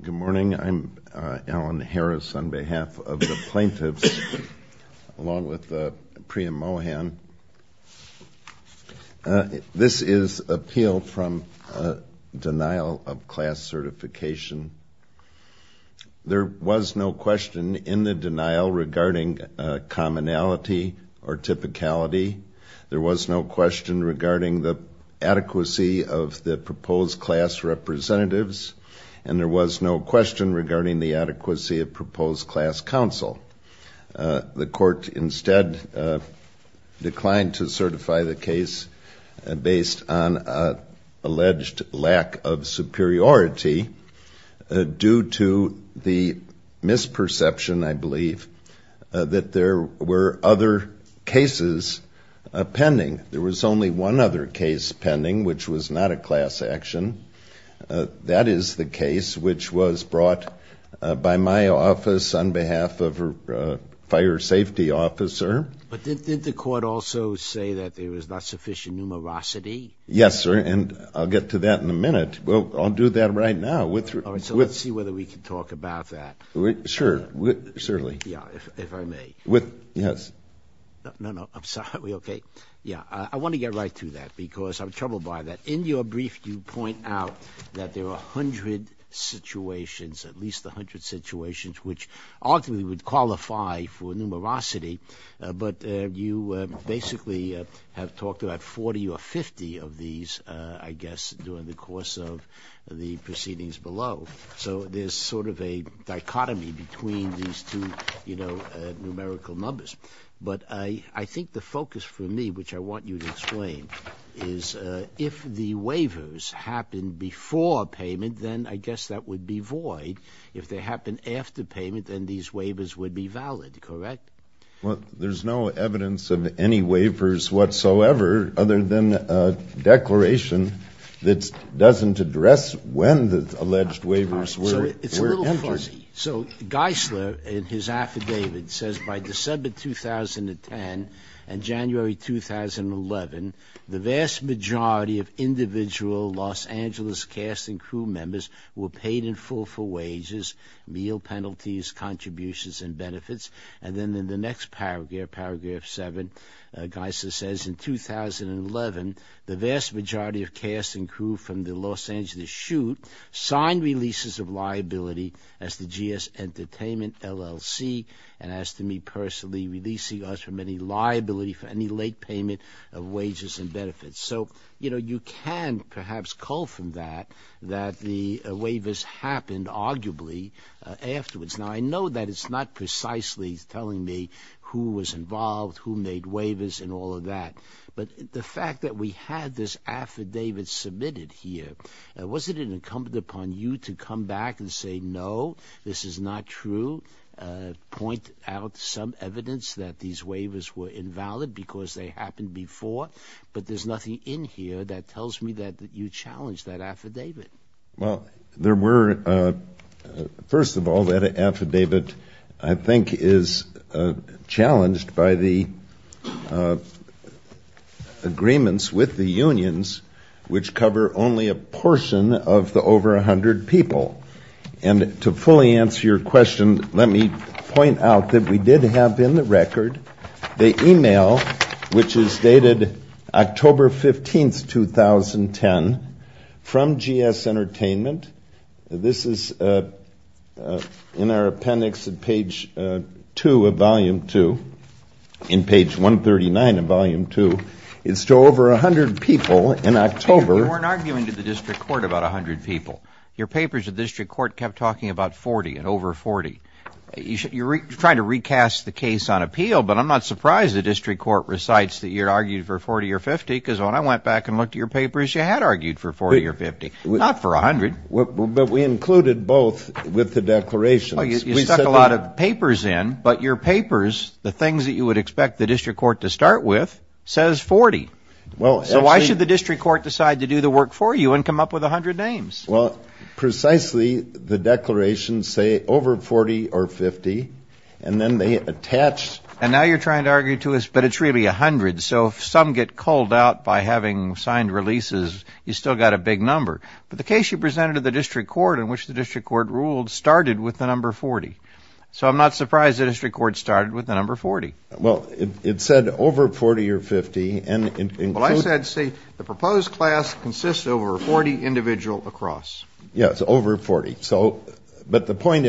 Good morning. I'm Alan Harris on behalf of the plaintiffs, along with Priya Mohan. This is an appeal from denial of class certification. There was no question in the denial regarding commonality or typicality. There was no question regarding the adequacy of the proposed class representatives, and there was no question regarding the adequacy of proposed class counsel. The court instead declined to certify the case based on alleged lack of superiority due to the misperception, I believe, that there were other cases pending. There was only one other case pending, which was not a class action. That is the case which was brought by my office on behalf of a fire safety officer. But did the court also say that there was not sufficient numerosity? Yes, sir, and I'll get to that in a minute. Well, I'll do that right now. All right, so let's see whether we can talk about that. Sure, certainly. Yeah, if I may. Yes. No, no, I'm sorry. Okay. Yeah, I want to get right to that because I'm troubled by that. In your brief, you point out that there are 100 situations, at least 100 situations, which ultimately would qualify for numerosity, but you basically have talked about 40 or 50 of these, I guess, during the course of the proceedings below. So there's sort of a dichotomy between these two, you know, numerical numbers. But I think the focus for me, which I want you to explain, is if the waivers happen before payment, then I guess that would be void. If they happen after payment, then these waivers would be valid, correct? Well, there's no evidence of any waivers whatsoever other than a declaration that doesn't address when the alleged waivers were entered. So Geisler, in his affidavit, says by December 2010 and January 2011, the vast majority of individual Los Angeles cast and crew members were paid in full for wages, meal penalties, contributions, and benefits. And then in the next paragraph, paragraph 7, Geisler says, in 2011, the vast majority of cast and crew from the Los Angeles shoot signed releases of liability as the GS Entertainment LLC and asked to meet personally, releasing us from any liability for any late payment of wages and benefits. So, you know, you can perhaps call from that that the waivers happened arguably afterwards. Now, I know that it's not precisely telling me who was involved, who made waivers, and all of that. But the fact that we had this affidavit submitted here, wasn't it incumbent upon you to come back and say, no, this is not true, point out some evidence that these waivers were invalid because they happened before? But there's nothing in here that tells me that you challenged that affidavit. Well, there were, first of all, that affidavit I think is challenged by the agreements with the unions, which cover only a portion of the over 100 people. And to fully answer your question, let me point out that we did have in the record the email which is dated October 15, 2010, from GS Entertainment. This is in our appendix at page 2 of volume 2, in page 139 of volume 2. It's to over 100 people in October. You weren't arguing to the district court about 100 people. Your papers, the district court kept talking about 40 and over 40. You're trying to recast the case on appeal, but I'm not surprised the district court recites that you argued for 40 or 50 because when I went back and looked at your papers, you had argued for 40 or 50, not for 100. But we included both with the declaration. Well, you stuck a lot of papers in, but your papers, the things that you would expect the district court to start with, says 40. So why should the district court decide to do the work for you and come up with 100 names? Well, precisely the declarations say over 40 or 50, and then they attach. And now you're trying to argue to us, but it's really 100. So if some get called out by having signed releases, you've still got a big number. But the case you presented to the district court in which the district court ruled started with the number 40. So I'm not surprised the district court started with the number 40. Well, it said over 40 or 50. Well, I said, see, the proposed class consists of over 40 individuals across. Yes, over 40. But the point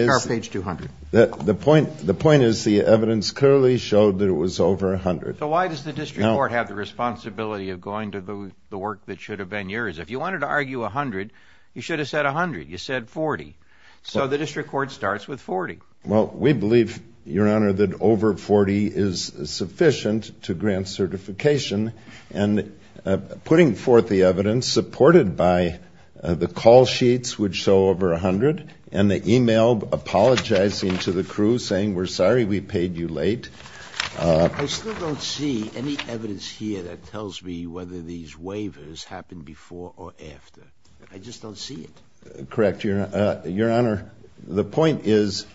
is the evidence clearly showed that it was over 100. So why does the district court have the responsibility of going to the work that should have been yours? If you wanted to argue 100, you should have said 100. You said 40. So the district court starts with 40. Well, we believe, Your Honor, that over 40 is sufficient to grant certification. And putting forth the evidence supported by the call sheets, which show over 100, and the e-mail apologizing to the crew, saying we're sorry we paid you late. I still don't see any evidence here that tells me whether these waivers happened before or after. I just don't see it. Correct, Your Honor. Your Honor, the point is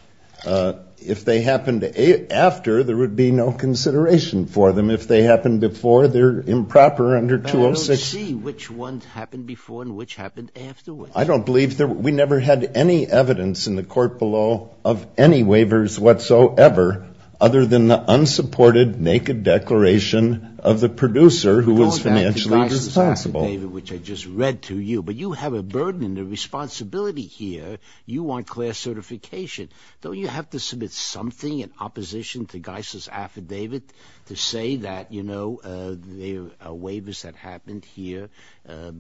if they happened after, there would be no consideration for them. If they happened before, they're improper under 206. But I don't see which ones happened before and which happened afterwards. I don't believe there we never had any evidence in the court below of any waivers whatsoever, other than the unsupported naked declaration of the producer who was financially responsible. Which I just read to you. But you have a burden and a responsibility here. You want class certification. Don't you have to submit something in opposition to Geisler's affidavit to say that, you know, there are waivers that happened here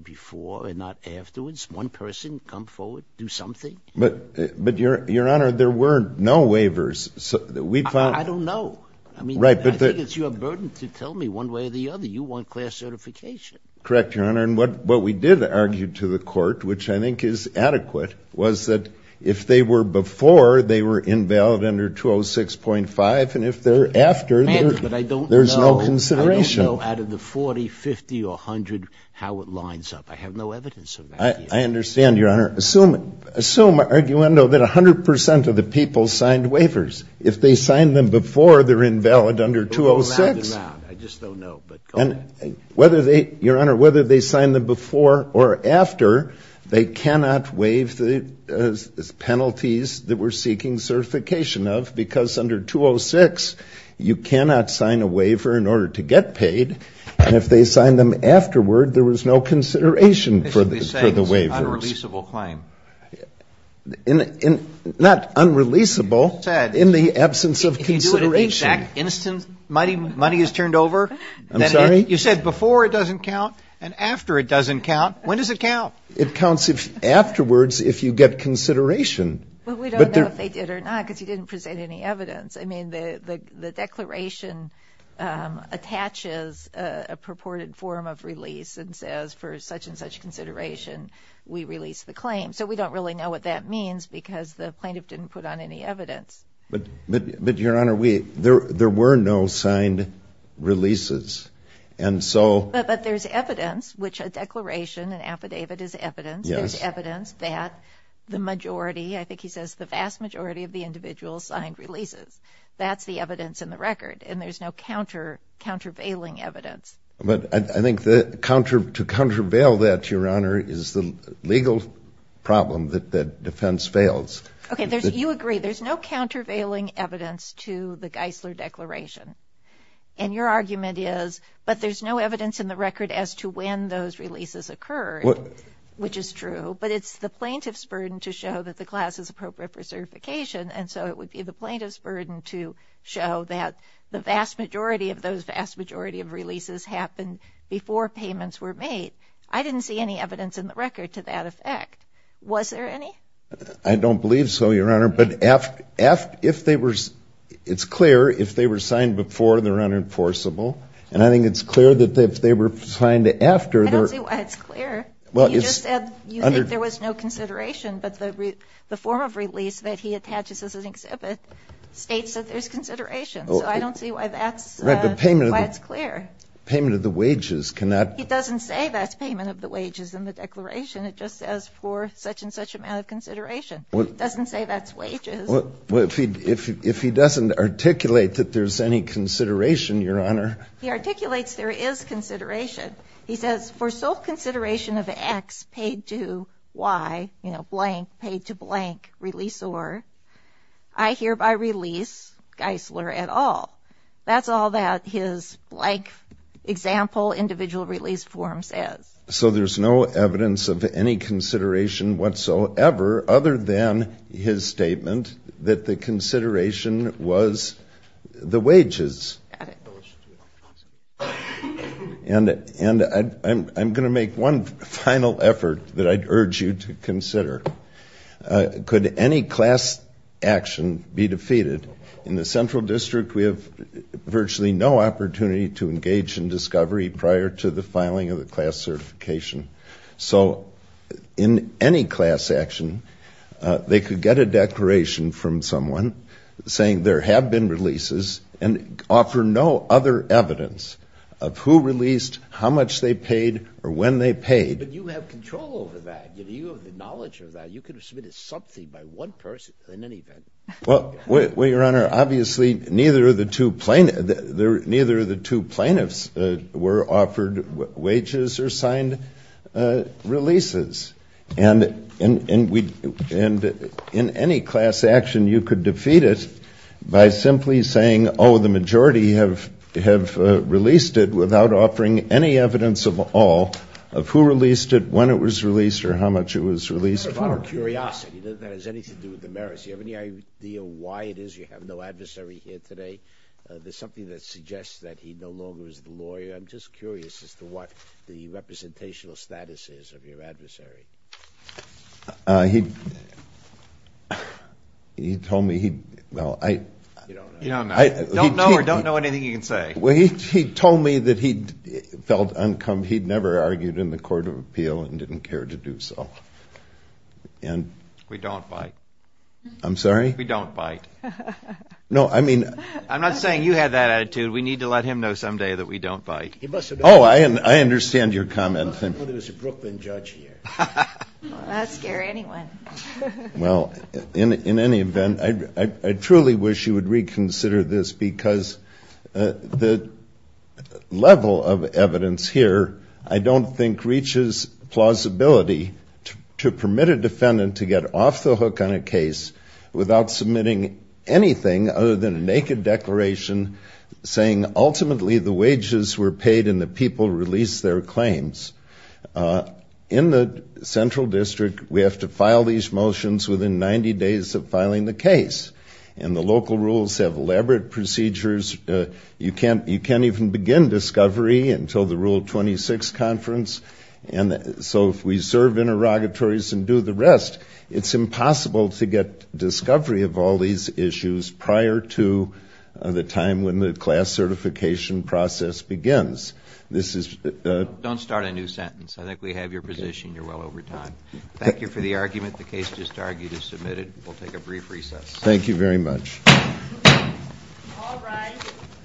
before and not afterwards? One person come forward, do something? But, Your Honor, there were no waivers. I don't know. I mean, I think it's your burden to tell me one way or the other. You want class certification. Correct, Your Honor. And what we did argue to the court, which I think is adequate, was that if they were before, they were invalid under 206.5. And if they're after, there's no consideration. But I don't know out of the 40, 50 or 100 how it lines up. I have no evidence of that here. I understand, Your Honor. Assume, arguendo, that 100 percent of the people signed waivers. If they signed them before, they're invalid under 206. I just don't know. Whether they, Your Honor, whether they signed them before or after, they cannot waive the penalties that we're seeking certification of, because under 206, you cannot sign a waiver in order to get paid. And if they signed them afterward, there was no consideration for the waivers. Basically saying it's an unreleasable claim. Not unreleasable, in the absence of consideration. Money is turned over? I'm sorry? You said before it doesn't count and after it doesn't count. When does it count? It counts afterwards if you get consideration. But we don't know if they did or not, because you didn't present any evidence. I mean, the declaration attaches a purported form of release and says, for such and such consideration, we release the claim. So we don't really know what that means, because the plaintiff didn't put on any evidence. But, Your Honor, there were no signed releases. But there's evidence, which a declaration, an affidavit is evidence. There's evidence that the majority, I think he says the vast majority, of the individuals signed releases. That's the evidence in the record. And there's no countervailing evidence. But I think to countervail that, Your Honor, is the legal problem that defense fails. Okay, you agree. There's no countervailing evidence to the Geisler Declaration. And your argument is, but there's no evidence in the record as to when those releases occurred, which is true. But it's the plaintiff's burden to show that the class is appropriate for certification. And so it would be the plaintiff's burden to show that the vast majority of those vast majority of releases happened before payments were made. I didn't see any evidence in the record to that effect. Was there any? I don't believe so, Your Honor. But if they were, it's clear if they were signed before, they're unenforceable. And I think it's clear that if they were signed after, they're unenforceable. I don't see why it's clear. You just said you think there was no consideration. But the form of release that he attaches as an exhibit states that there's consideration. So I don't see why that's, why it's clear. Payment of the wages cannot. He doesn't say that's payment of the wages in the declaration. It just says for such and such amount of consideration. It doesn't say that's wages. Well, if he doesn't articulate that there's any consideration, Your Honor. He articulates there is consideration. He says for sole consideration of X paid to Y, you know, blank, paid to blank, release or, I hereby release Geisler et al. That's all that his blank example individual release form says. So there's no evidence of any consideration whatsoever other than his statement that the consideration was the wages. And I'm going to make one final effort that I'd urge you to consider. Could any class action be defeated? In the central district, we have virtually no opportunity to engage in discovery prior to the filing of the class certification. So in any class action, they could get a declaration from someone saying there have been releases and offer no other evidence of who released, how much they paid, or when they paid. But you have control over that. You have the knowledge of that. You could have submitted something by one person in any event. Well, Your Honor, obviously neither of the two plaintiffs were offered wages or signed releases. And in any class action, you could defeat it by simply saying, oh, the majority have released it without offering any evidence of all of who released it, when it was released, or how much it was released. Your Honor, just out of curiosity, doesn't that have anything to do with the merits? Do you have any idea why it is you have no adversary here today? There's something that suggests that he no longer is the lawyer. I'm just curious as to what the representational status is of your adversary. He told me he – well, I – You don't know. You don't know or don't know anything you can say. Well, he told me that he felt uncomfortable. He'd never argued in the court of appeal and didn't care to do so. We don't bite. I'm sorry? We don't bite. No, I mean – I'm not saying you had that attitude. We need to let him know someday that we don't bite. Oh, I understand your comment. I'm not going to put him as a Brooklyn judge here. That would scare anyone. Well, in any event, I truly wish you would reconsider this because the level of evidence here I don't think reaches plausibility to permit a defendant to get off the hook on a case without submitting anything other than a naked declaration saying ultimately the wages were paid and the people released their claims. In the central district, we have to file these motions within 90 days of filing the case. And the local rules have elaborate procedures. You can't even begin discovery until the Rule 26 conference. And so if we serve interrogatories and do the rest, it's impossible to get discovery of all these issues prior to the time when the class certification process begins. Don't start a new sentence. I think we have your position. You're well over time. Thank you for the argument. The case just argued is submitted. We'll take a brief recess. Thank you very much.